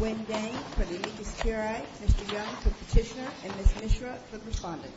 Wendang, for the Leakless TRI, Mr. Young, for Petitioner, and Ms. Mishra, for Respondent. Mr. Young, for the Leakless TRI, Mr. Young, for Respondent.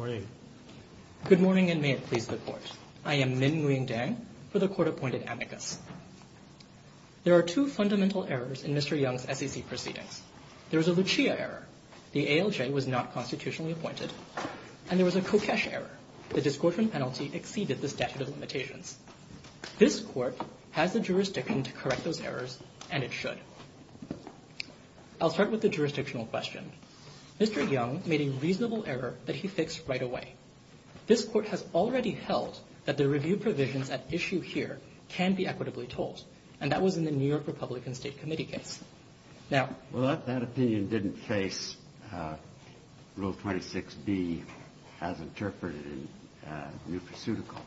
Good morning. Good morning, and may it please the Court. I am Min Wendang, for the Court-Appointed Amicus. There are two fundamental errors in Mr. Young's SEC proceedings. There is a Lucia error. The ALJ was not constitutionally appointed. And there was a Kokesh error. The discouragement penalty exceeded the statute of limitations. This Court has the jurisdiction to correct those errors, and it should. I'll start with the jurisdictional question. Mr. Young made a reasonable error that he fixed right away. This Court has already held that the review provisions at issue here can be equitably told, and that was in the New York Republican State Committee case. Well, that opinion didn't face Rule 26b as interpreted in Neutraceutical.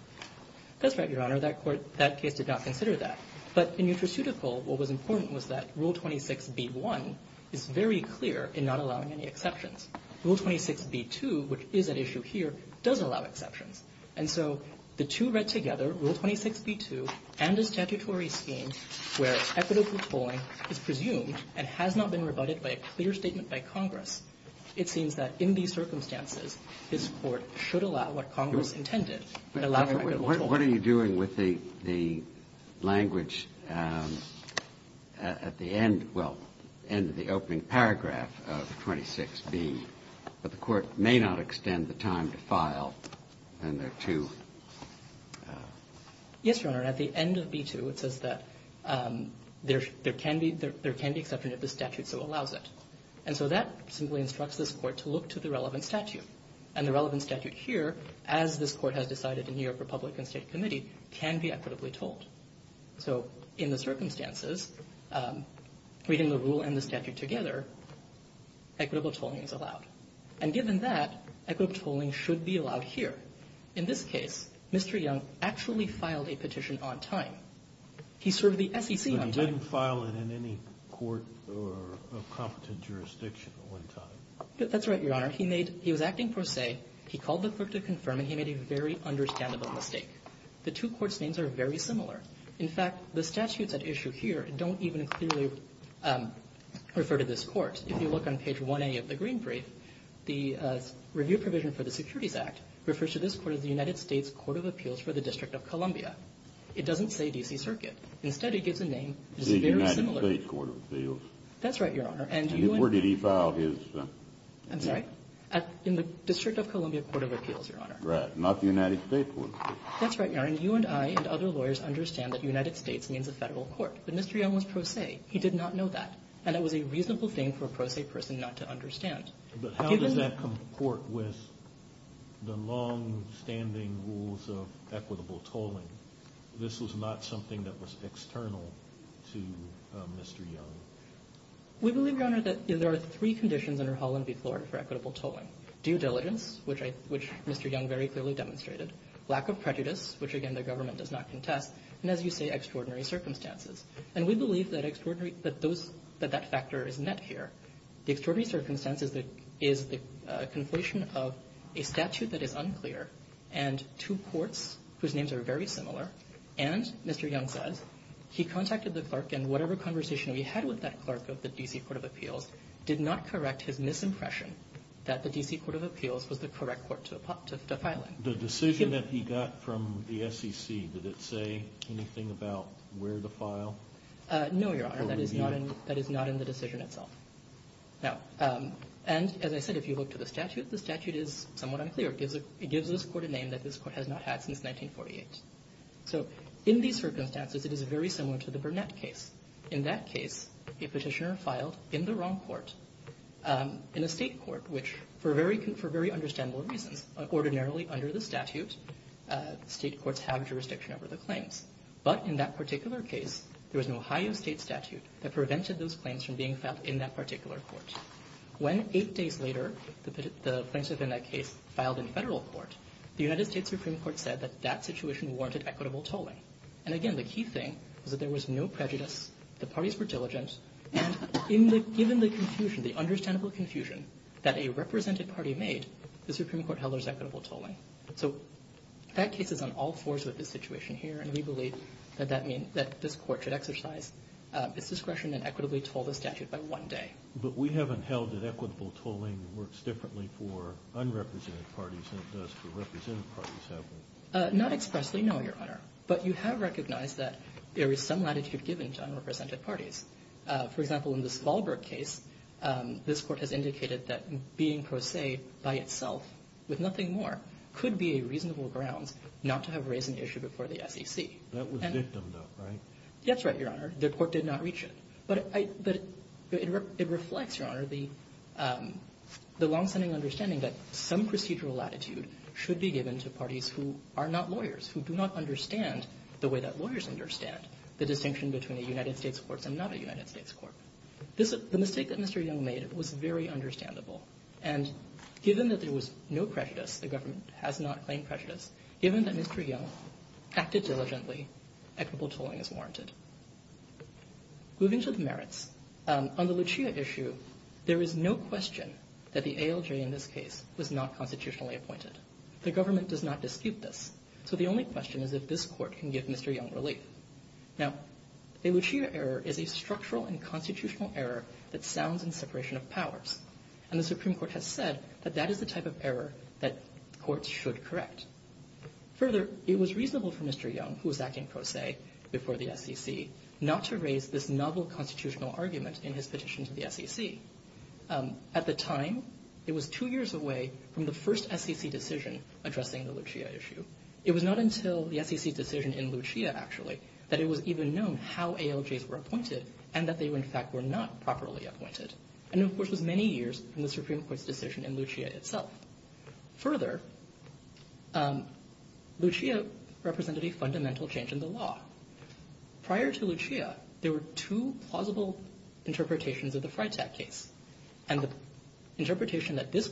That's right, Your Honor. That case did not consider that. But in Neutraceutical, what was important was that Rule 26b-1 is very clear in not allowing any exceptions. Rule 26b-2, which is at issue here, does allow exceptions. And so the two read together, Rule 26b-2 and the statutory scheme, where equitable tolling is presumed and has not been rebutted by a clear statement by Congress, it seems that in these circumstances, this Court should allow what Congress intended, What are you doing with the language at the end, well, end of the opening paragraph of 26b, that the Court may not extend the time to file and there are two? Yes, Your Honor. At the end of b-2, it says that there can be exception if the statute so allows it. And so that simply instructs this Court to look to the relevant statute. And the relevant statute here, as this Court has decided in New York Republican State Committee, can be equitably tolled. So in the circumstances, reading the rule and the statute together, equitable tolling is allowed. And given that, equitable tolling should be allowed here. In this case, Mr. Young actually filed a petition on time. He served the SEC on time. But he didn't file it in any court or competent jurisdiction on time. That's right, Your Honor. He made, he was acting per se. He called the clerk to confirm, and he made a very understandable mistake. The two courts' names are very similar. In fact, the statutes at issue here don't even clearly refer to this Court. If you look on page 1a of the green brief, the review provision for the Securities Act refers to this Court as the United States Court of Appeals for the District of Columbia. It doesn't say D.C. Circuit. Instead, it gives a name that's very similar. The United States Court of Appeals. That's right, Your Honor. Where did he file his? I'm sorry? In the District of Columbia Court of Appeals, Your Honor. Right. Not the United States Court. That's right, Your Honor. And you and I and other lawyers understand that United States means a federal court. But Mr. Young was per se. He did not know that. And it was a reasonable thing for a per se person not to understand. But how does that comport with the longstanding rules of equitable tolling? This was not something that was external to Mr. Young. We believe, Your Honor, that there are three conditions under Holland v. Florida for equitable tolling. Due diligence, which Mr. Young very clearly demonstrated. Lack of prejudice, which, again, the government does not contest. And as you say, extraordinary circumstances. And we believe that that factor is met here. The extraordinary circumstance is the conflation of a statute that is unclear and two courts whose names are very similar. And, Mr. Young says, he contacted the clerk and whatever conversation we had with that clerk of the D.C. Court of Appeals did not correct his misimpression that the D.C. Court of Appeals was the correct court to file in. The decision that he got from the SEC, did it say anything about where to file? No, Your Honor. That is not in the decision itself. And, as I said, if you look to the statute, the statute is somewhat unclear. It gives this court a name that this court has not had since 1948. So in these circumstances, it is very similar to the Burnett case. In that case, a petitioner filed in the wrong court, in a state court, which for very understandable reasons, ordinarily under the statute, state courts have jurisdiction over the claims. But in that particular case, there was an Ohio State statute that prevented those claims from being filed in that particular court. When, eight days later, the claims within that case filed in federal court, the United States Supreme Court said that that situation warranted equitable tolling. And, again, the key thing was that there was no prejudice, the parties were diligent, and given the confusion, the understandable confusion that a represented party made, the Supreme Court held there was equitable tolling. So that case is on all fours with this situation here, and we believe that that means that this court should exercise its discretion and equitably toll the statute by one day. But we haven't held that equitable tolling works differently for unrepresented parties than it does for represented parties, have we? Not expressly, no, Your Honor. But you have recognized that there is some latitude given to unrepresented parties. For example, in this Wahlberg case, this court has indicated that being pro se by itself with nothing more could be a reasonable grounds not to have raised an issue before the SEC. That was victimed, though, right? That's right, Your Honor. The court did not reach it. But it reflects, Your Honor, the longstanding understanding that some procedural latitude should be given to parties who are not lawyers, who do not understand the way that lawyers understand the distinction between a United States courts and not a United States court. The mistake that Mr. Yeung made was very understandable, and given that there was no prejudice, the government has not claimed prejudice, given that Mr. Yeung acted diligently, equitable tolling is warranted. Moving to the merits, on the Lucia issue, there is no question that the ALJ in this case was not constitutionally appointed. The government does not dispute this. So the only question is if this court can give Mr. Yeung relief. Now, a Lucia error is a structural and constitutional error that sounds in separation of powers. And the Supreme Court has said that that is the type of error that courts should correct. Further, it was reasonable for Mr. Yeung, who was acting pro se before the SEC, not to raise this novel constitutional argument in his petition to the SEC. At the time, it was two years away from the first SEC decision addressing the Lucia issue. It was not until the SEC's decision in Lucia, actually, that it was even known how ALJs were appointed and that they, in fact, were not properly appointed. And, of course, it was many years from the Supreme Court's decision in Lucia itself. Further, Lucia represented a fundamental change in the law. Prior to Lucia, there were two plausible interpretations of the Freytag case. And the interpretation that this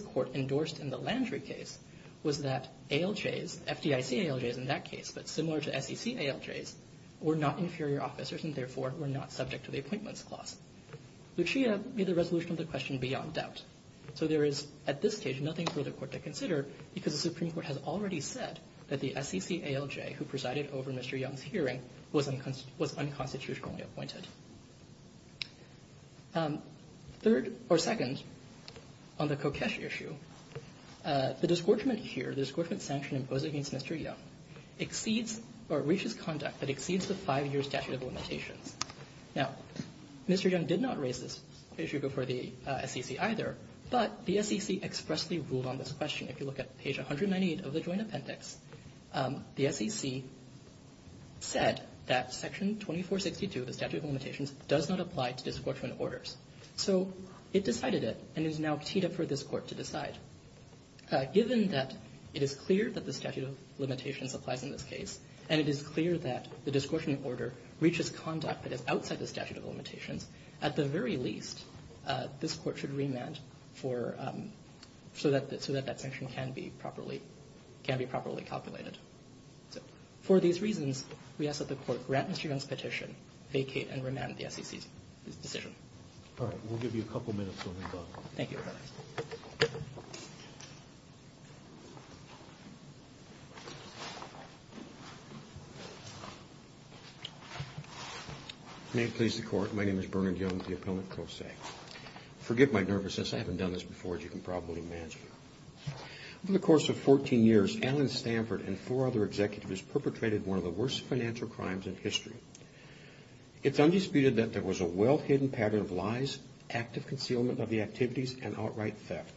court endorsed in the Landry case was that ALJs, FDIC ALJs in that case, but similar to SEC ALJs, were not inferior officers and, therefore, were not subject to the appointments clause. Lucia made the resolution of the question beyond doubt. So there is, at this stage, nothing for the court to consider because the Supreme Court has already said that the SEC ALJ who presided over Mr. Yeung's hearing was unconstitutionally appointed. Third, or second, on the Kokesh issue, the disgorgement here, the disgorgement sanction imposed against Mr. Yeung, exceeds or reaches conduct that exceeds the five-year statute of limitations. Now, Mr. Yeung did not raise this issue before the SEC either, but the SEC expressly ruled on this question. If you look at page 198 of the Joint Appendix, the SEC said that Section 2462, the statute of limitations, does not apply to disgorgement orders. So it decided it and is now teed up for this court to decide. Given that it is clear that the statute of limitations applies in this case and it is clear that the disgorgement order reaches conduct that is outside the statute of limitations, at the very least, this court should remand so that that sanction can be properly calculated. So for these reasons, we ask that the court grant Mr. Yeung's petition, vacate and remand the SEC's decision. All right. We'll give you a couple of minutes on that. Thank you. May it please the Court. My name is Bernard Yeung, the appellant, pro se. Forgive my nervousness. I haven't done this before, as you can probably imagine. Over the course of 14 years, Alan Stanford and four other executives perpetrated one of the worst financial crimes in history. It's undisputed that there was a well-hidden pattern of lies, active concealment of the activities, and outright theft.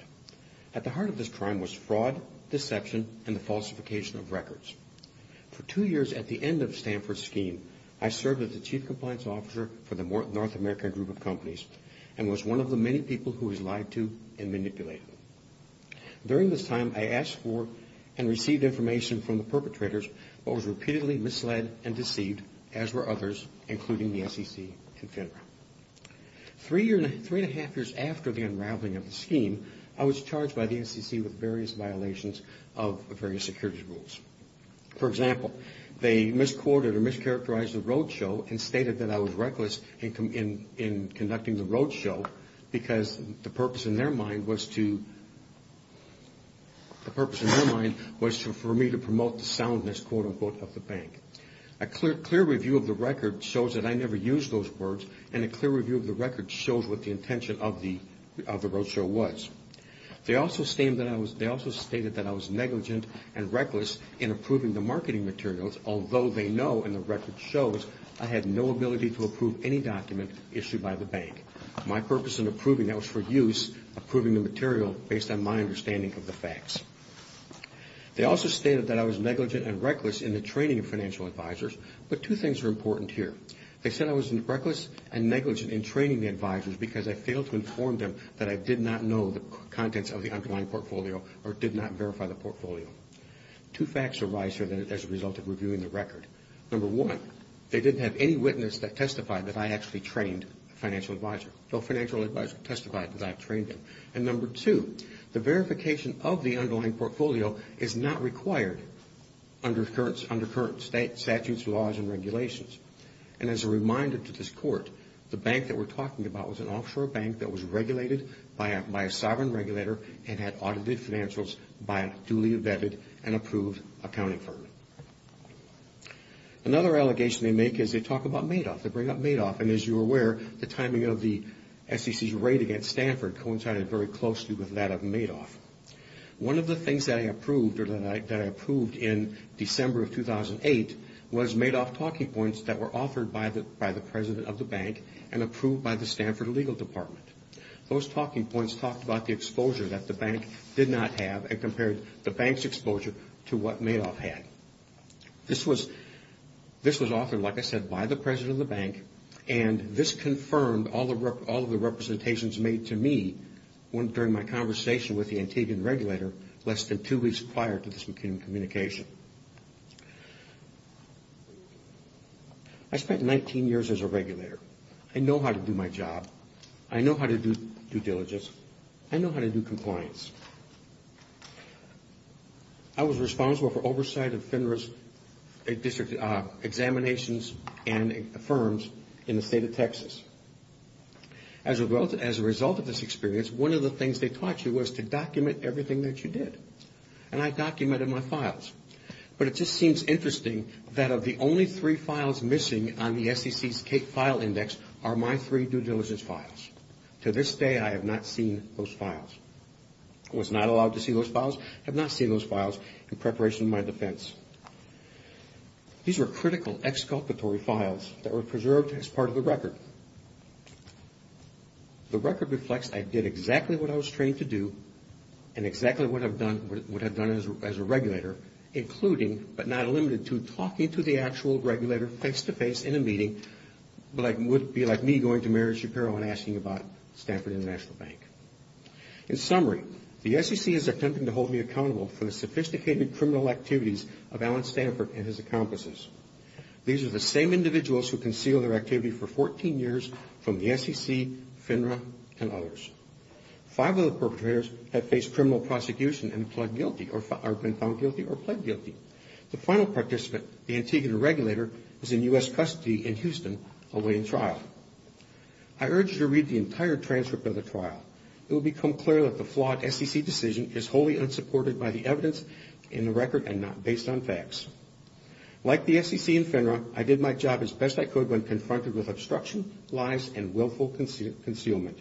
At the heart of this crime was fraud, deception, and the falsification of records. For two years at the end of Stanford's scheme, I served as the Chief Compliance Officer for the North American Group of Companies and was one of the many people who was lied to and manipulated. During this time, I asked for and received information from the perpetrators but was repeatedly misled and deceived, as were others, including the SEC and FINRA. Three and a half years after the unraveling of the scheme, I was charged by the SEC with various violations of various security rules. For example, they misquoted or mischaracterized the roadshow and stated that I was reckless in conducting the roadshow because the purpose in their mind was to, the purpose in their mind was for me to promote the soundness, quote-unquote, of the bank. A clear review of the record shows that I never used those words, and a clear review of the record shows what the intention of the roadshow was. They also stated that I was negligent and reckless in approving the marketing materials, although they know, and the record shows, I had no ability to approve any document issued by the bank. My purpose in approving that was for use, approving the material based on my understanding of the facts. They also stated that I was negligent and reckless in the training of financial advisors, but two things are important here. They said I was reckless and negligent in training the advisors because I failed to inform them that I did not know the contents of the underlying portfolio or did not verify the portfolio. Two facts arise here as a result of reviewing the record. Number one, they didn't have any witness that testified that I actually trained a financial advisor. No financial advisor testified that I trained them. And number two, the verification of the underlying portfolio is not required under current statutes, laws, and regulations. And as a reminder to this court, the bank that we're talking about was an offshore bank that was regulated by a sovereign regulator and had audited financials by a duly vetted and approved accounting firm. Another allegation they make is they talk about Madoff. They bring up Madoff, and as you're aware, the timing of the SEC's raid against Stanford coincided very closely with that of Madoff. One of the things that I approved in December of 2008 was Madoff talking points that were authored by the president of the bank and approved by the Stanford legal department. Those talking points talked about the exposure that the bank did not have and compared the bank's exposure to what Madoff had. This was authored, like I said, by the president of the bank, and this confirmed all of the representations made to me during my conversation with the Antibian regulator less than two weeks prior to this communication. I spent 19 years as a regulator. I know how to do my job. I know how to do due diligence. I know how to do compliance. I was responsible for oversight of FINRA's examinations and firms in the state of Texas. As a result of this experience, one of the things they taught you was to document everything that you did, and I documented my files. But it just seems interesting that of the only three files missing on the SEC's CATE file index are my three due diligence files. To this day, I have not seen those files. I was not allowed to see those files. I have not seen those files in preparation of my defense. These were critical exculpatory files that were preserved as part of the record. The record reflects I did exactly what I was trained to do and exactly what I would have done as a regulator, including but not limited to talking to the actual regulator face-to-face in a meeting that would be like me going to Mary Shapiro and asking about Stanford International Bank. In summary, the SEC is attempting to hold me accountable for the sophisticated criminal activities of Alan Stanford and his accomplices. These are the same individuals who concealed their activity for 14 years from the SEC, FINRA, and others. Five of the perpetrators have faced criminal prosecution and have been found guilty or pled guilty. The final participant, the Antigua regulator, is in U.S. custody in Houston awaiting trial. I urge you to read the entire transcript of the trial. It will become clear that the flawed SEC decision is wholly unsupported by the evidence in the record and not based on facts. Like the SEC and FINRA, I did my job as best I could when confronted with obstruction, lies, and willful concealment.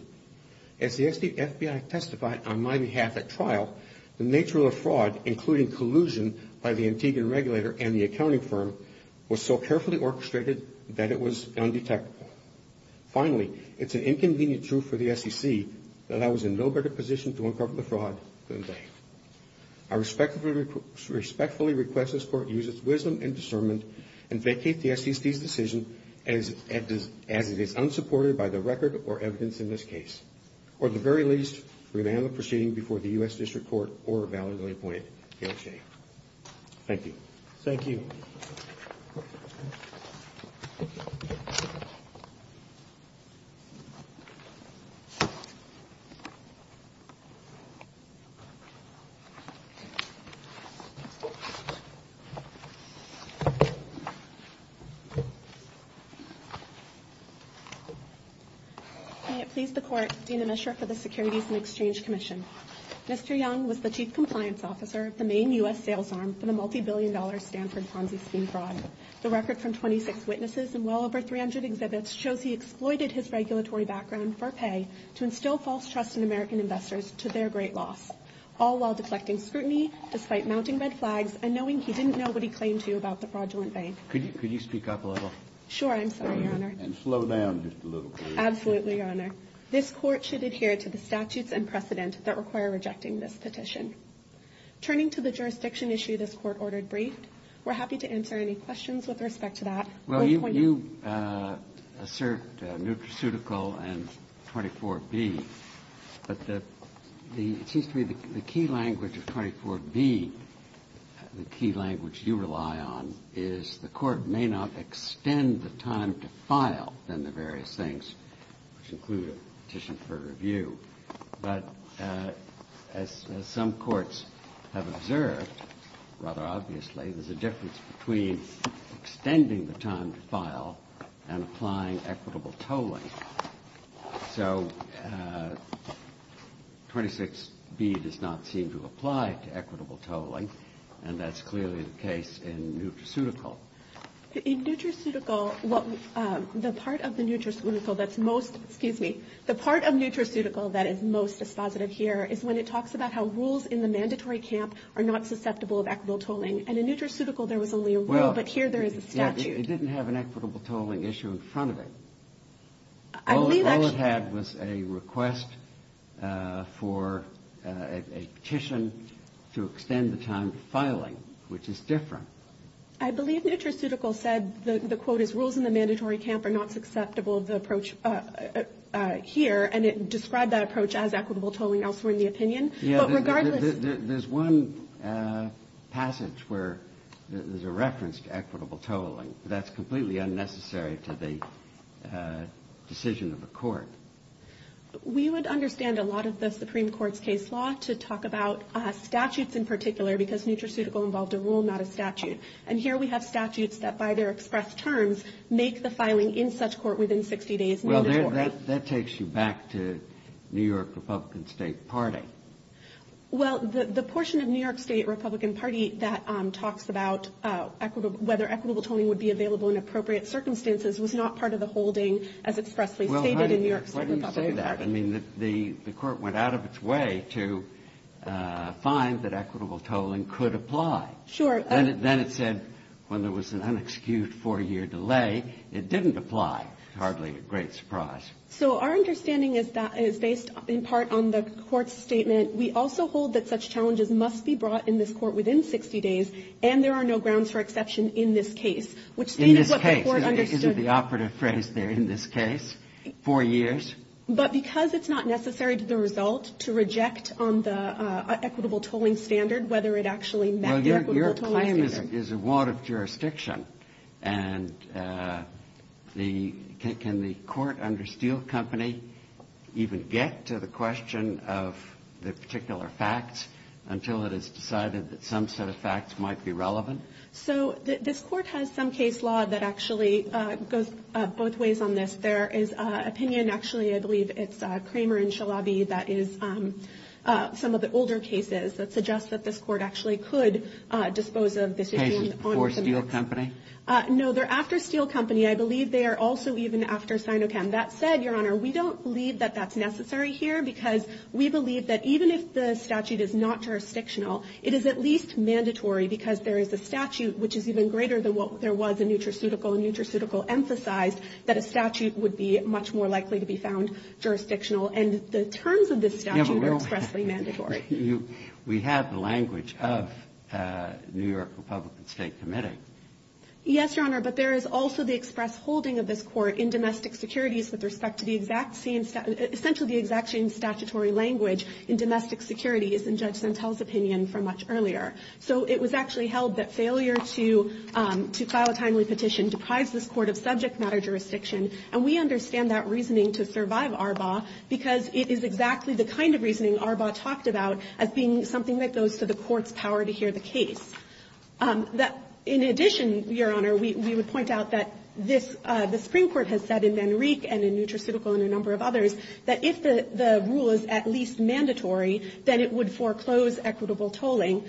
As the FBI testified on my behalf at trial, the nature of the fraud, including collusion by the Antigua regulator and the accounting firm, was so carefully orchestrated that it was undetectable. Finally, it's an inconvenient truth for the SEC that I was in no better position to uncover the fraud than they. I respectfully request this Court use its wisdom and discernment and vacate the SEC's decision as it is unsupported by the record or evidence in this case. Or at the very least, revamp the proceeding before the U.S. District Court or a validly appointed DA. Thank you. Thank you. May it please the Court, Dean Emischer for the Securities and Exchange Commission. Mr. Young was the Chief Compliance Officer of the main U.S. sales arm for the multibillion-dollar Stanford Ponzi scheme fraud. The record from 26 witnesses and well over 300 exhibits shows he exploited his regulatory background for pay to instill false trust in American investors to their great loss, all while deflecting scrutiny despite mounting red flags and knowing he didn't know what he claimed to about the fraudulent bank. Could you speak up a little? Sure, I'm sorry, Your Honor. And slow down just a little, please. Absolutely, Your Honor. This Court should adhere to the statutes and precedent that require rejecting this petition. Turning to the jurisdiction issue this Court ordered briefed, we're happy to answer any questions with respect to that. Well, you assert nutraceutical and 24B, but it seems to me the key language of 24B, the key language you rely on, is the Court may not extend the time to file then the various things, which include a petition for review. But as some courts have observed, rather obviously, there's a difference between extending the time to file and applying equitable tolling. So 26B does not seem to apply to equitable tolling, and that's clearly the case in nutraceutical. In nutraceutical, the part of the nutraceutical that's most, excuse me, the part of nutraceutical that is most dispositive here is when it talks about how rules in the mandatory camp are not susceptible of equitable tolling. And in nutraceutical there was only a rule, but here there is a statute. It didn't have an equitable tolling issue in front of it. All it had was a request for a petition to extend the time to filing, which is different. I believe nutraceutical said, the quote is, the rules in the mandatory camp are not susceptible of the approach here, and it described that approach as equitable tolling elsewhere in the opinion. But regardless of the... Yeah, there's one passage where there's a reference to equitable tolling. That's completely unnecessary to the decision of the Court. We would understand a lot of the Supreme Court's case law to talk about statutes in particular, because nutraceutical involved a rule, not a statute. And here we have statutes that by their expressed terms make the filing in such court within 60 days mandatory. Well, that takes you back to New York Republican State Party. Well, the portion of New York State Republican Party that talks about whether equitable tolling would be available in appropriate circumstances was not part of the holding as expressly stated in New York State Republican Party. Well, honey, why do you say that? I mean, the Court went out of its way to find that equitable tolling could apply. Sure. Then it said when there was an unexcused 4-year delay, it didn't apply. Hardly a great surprise. So our understanding is that it's based in part on the Court's statement, we also hold that such challenges must be brought in this Court within 60 days, and there are no grounds for exception in this case. In this case? Isn't the operative phrase there, in this case, 4 years? But because it's not necessary to the result to reject on the equitable tolling standard whether it actually met the equitable tolling standard. Well, your claim is a warrant of jurisdiction, and can the court under Steele Company even get to the question of the particular facts until it has decided that some set of facts might be relevant? So this Court has some case law that actually goes both ways on this. There is an opinion, actually I believe it's Kramer and Shalabi, that is some of the older cases that suggest that this Court actually could dispose of this issue. Cases before Steele Company? No, they're after Steele Company. I believe they are also even after Sinocam. That said, your Honor, we don't believe that that's necessary here because we believe that even if the statute is not jurisdictional, it is at least mandatory because there is a statute which is even greater than what there was in Nutraceutical, and Nutraceutical emphasized that a statute would be much more likely to be found jurisdictional. And the terms of this statute are expressly mandatory. We have the language of New York Republican State Committee. Yes, Your Honor, but there is also the express holding of this Court in domestic securities with respect to the exact same, essentially the exact same statutory language in domestic securities in Judge Zantel's opinion from much earlier. So it was actually held that failure to file a timely petition deprives this Court of subject matter jurisdiction. And we understand that reasoning to survive Arbaugh because it is exactly the kind of reasoning Arbaugh talked about as being something that goes to the Court's power to hear the case. In addition, Your Honor, we would point out that this the Supreme Court has said in Manrique and in Nutraceutical and a number of others that if the rule is at least mandatory, then it would foreclose equitable tolling.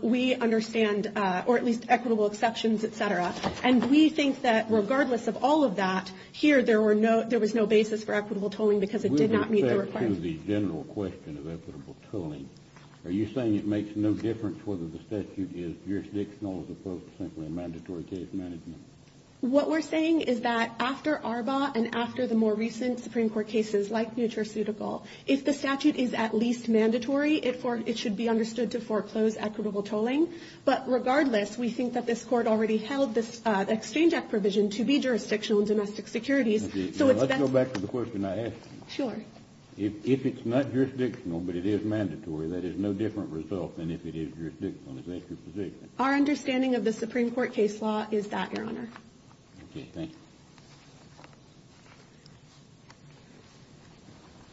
We understand, or at least equitable exceptions, et cetera. And we think that regardless of all of that, here there was no basis for equitable tolling because it did not meet the requirement. We would refer to the general question of equitable tolling. Are you saying it makes no difference whether the statute is jurisdictional as opposed to simply a mandatory case management? What we're saying is that after Arbaugh and after the more recent Supreme Court cases like Nutraceutical, if the statute is at least mandatory, it should be understood to foreclose equitable tolling. But regardless, we think that this Court already held this exchange act provision to be jurisdictional in domestic securities. Let's go back to the question I asked you. Sure. If it's not jurisdictional but it is mandatory, that is no different result than if it is jurisdictional. Is that your position? Our understanding of the Supreme Court case law is that, Your Honor. Okay. Thank you.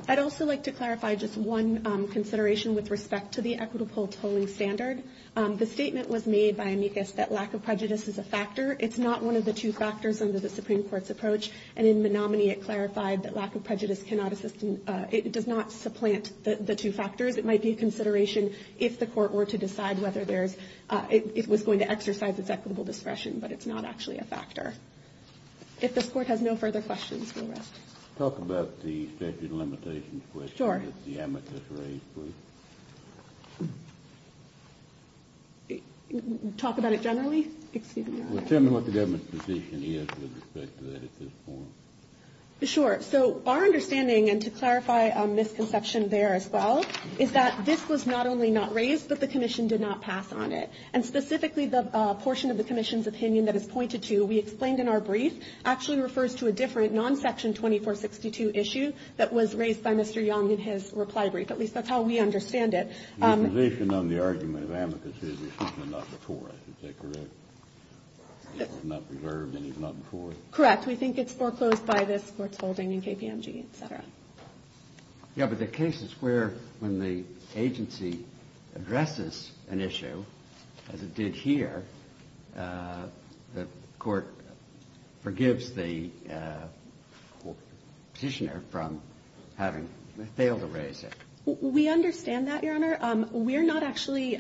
I'd also like to clarify just one consideration with respect to the equitable tolling standard. The statement was made by Amicus that lack of prejudice is a factor. It's not one of the two factors under the Supreme Court's approach. And in Menominee, it clarified that lack of prejudice cannot assist in – it does not supplant the two factors. It might be a consideration if the Court were to decide whether there's – it was going to exercise its equitable discretion, but it's not actually a factor. If this Court has no further questions, we'll rest. Talk about the statute of limitations question that the amicus raised, please. Talk about it generally? Excuse me, Your Honor. Well, tell me what the government's position is with respect to that at this point. Sure. So our understanding, and to clarify a misconception there as well, is that this was not only not raised, but the Commission did not pass on it. And specifically, the portion of the Commission's opinion that is pointed to, we explained in our brief, actually refers to a different non-Section 2462 issue that was raised by Mr. Young in his reply brief. At least that's how we understand it. Your position on the argument of amicus is it was not before, is that correct? It was not preserved and it was not before? Correct. We think it's foreclosed by this Court's holding in KPMG, et cetera. Yeah, but the cases where when the agency addresses an issue, as it did here, the Court forgives the Petitioner from having failed to raise it. We understand that, Your Honor. We're not actually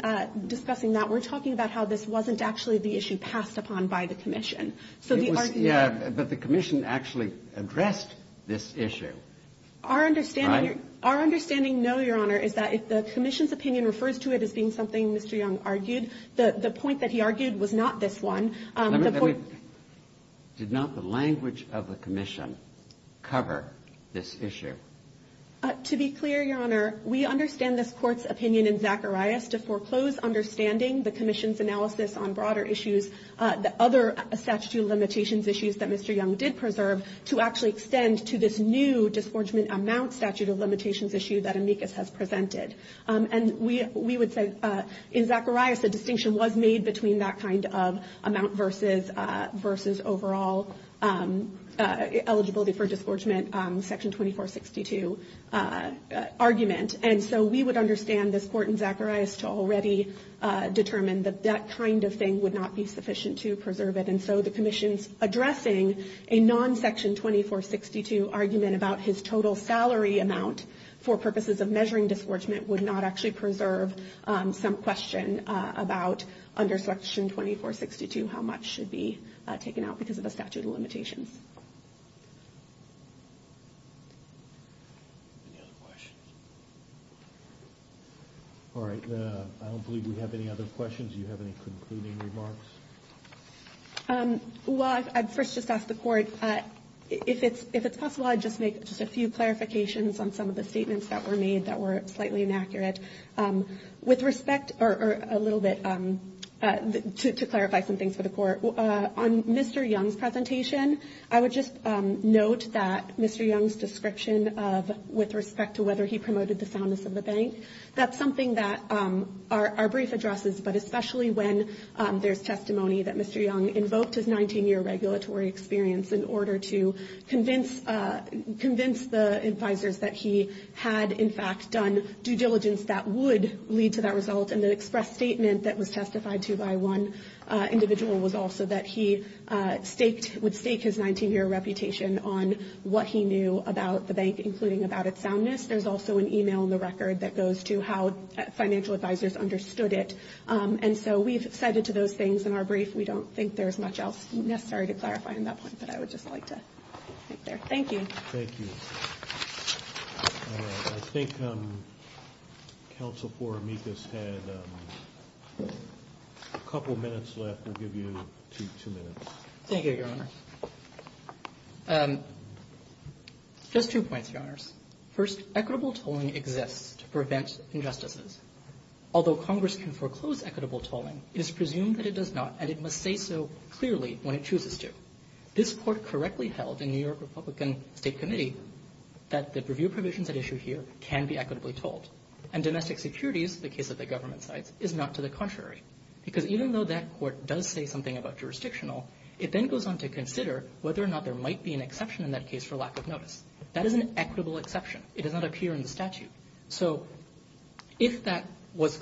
discussing that. We're talking about how this wasn't actually the issue passed upon by the Commission. So the argument was that the Commission actually addressed this issue, right? Our understanding, Your Honor, is that if the Commission's opinion refers to it as being something Mr. Young argued, the point that he argued was not this one. Did not the language of the Commission cover this issue? To be clear, Your Honor, we understand this Court's opinion in Zacharias to foreclose understanding the Commission's analysis on broader issues, the other statute of limitations issues that Mr. Young did preserve, to actually extend to this new disforgement amount statute of limitations issue that amicus has presented. And we would say, in Zacharias, a distinction was made between that kind of amount versus overall eligibility for disforgement, Section 2462 argument. And so we would understand this Court in Zacharias to already determine that that kind of thing would not be sufficient to preserve it. And so the Commission's addressing a non-Section 2462 argument about his total salary amount for purposes of measuring disforgement would not actually preserve some question about under Section 2462 how much should be taken out because of the statute of limitations. Any other questions? All right. I don't believe we have any other questions. Do you have any concluding remarks? Well, I'd first just ask the Court, if it's possible, I'd just make just a few clarifications on some of the statements that were made that were slightly inaccurate. With respect, or a little bit, to clarify some things for the Court, on Mr. Young's presentation, I would just note that Mr. Young's description of, with respect to whether he promoted the soundness of the bank, that's something that our brief addresses, but especially when there's testimony that Mr. Young invoked his 19-year regulatory experience in order to convince the advisors that he had, in fact, done due diligence that would lead to that result. And the express statement that was testified to by one individual was also that he would stake his 19-year reputation on what he knew about the bank, including about its soundness. There's also an email in the record that goes to how financial advisors understood it. And so we've cited to those things in our brief. We don't think there's much else necessary to clarify on that point, but I would just like to end there. Thank you. Thank you. I think Counsel for Amicus had a couple minutes left. We'll give you two minutes. Thank you, Your Honor. Just two points, Your Honors. First, equitable tolling exists to prevent injustices. Although Congress can foreclose equitable tolling, it is presumed that it does not, and it must say so clearly when it chooses to. This Court correctly held in New York Republican State Committee that the review provisions at issue here can be equitably tolled. And domestic securities, the case of the government sides, is not to the contrary. Because even though that Court does say something about jurisdictional, it then goes on to consider whether or not there might be an exception in that case for lack of notice. That is an equitable exception. It does not appear in the statute. So if that was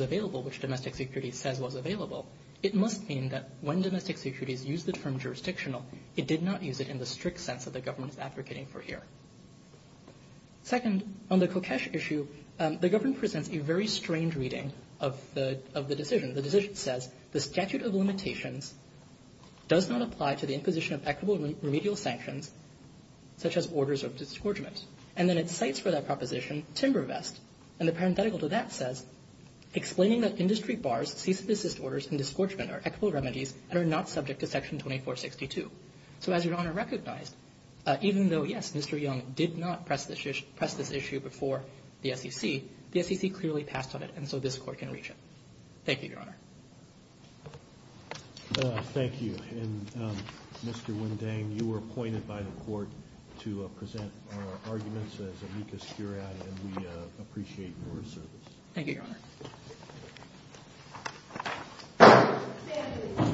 available, which domestic securities says was available, it must mean that when domestic securities used the term jurisdictional, it did not use it in the strict sense that the government is advocating for here. Second, on the Kokesh issue, the government presents a very strange reading of the decision. The decision says, the statute of limitations does not apply to the imposition of equitable remedial sanctions, such as orders of disgorgement. And then it cites for that proposition timber vest. And the parenthetical to that says, explaining that industry bars, cease and desist orders, and disgorgement are equitable remedies and are not subject to Section 2462. So as Your Honor recognized, even though, yes, Mr. Young did not press this issue before the SEC, the SEC clearly passed on it, and so this Court can reach it. Thank you, Your Honor. Thank you. And Mr. Windang, you were appointed by the Court to present our arguments as amicus curiae, and we appreciate your service. Thank you, Your Honor.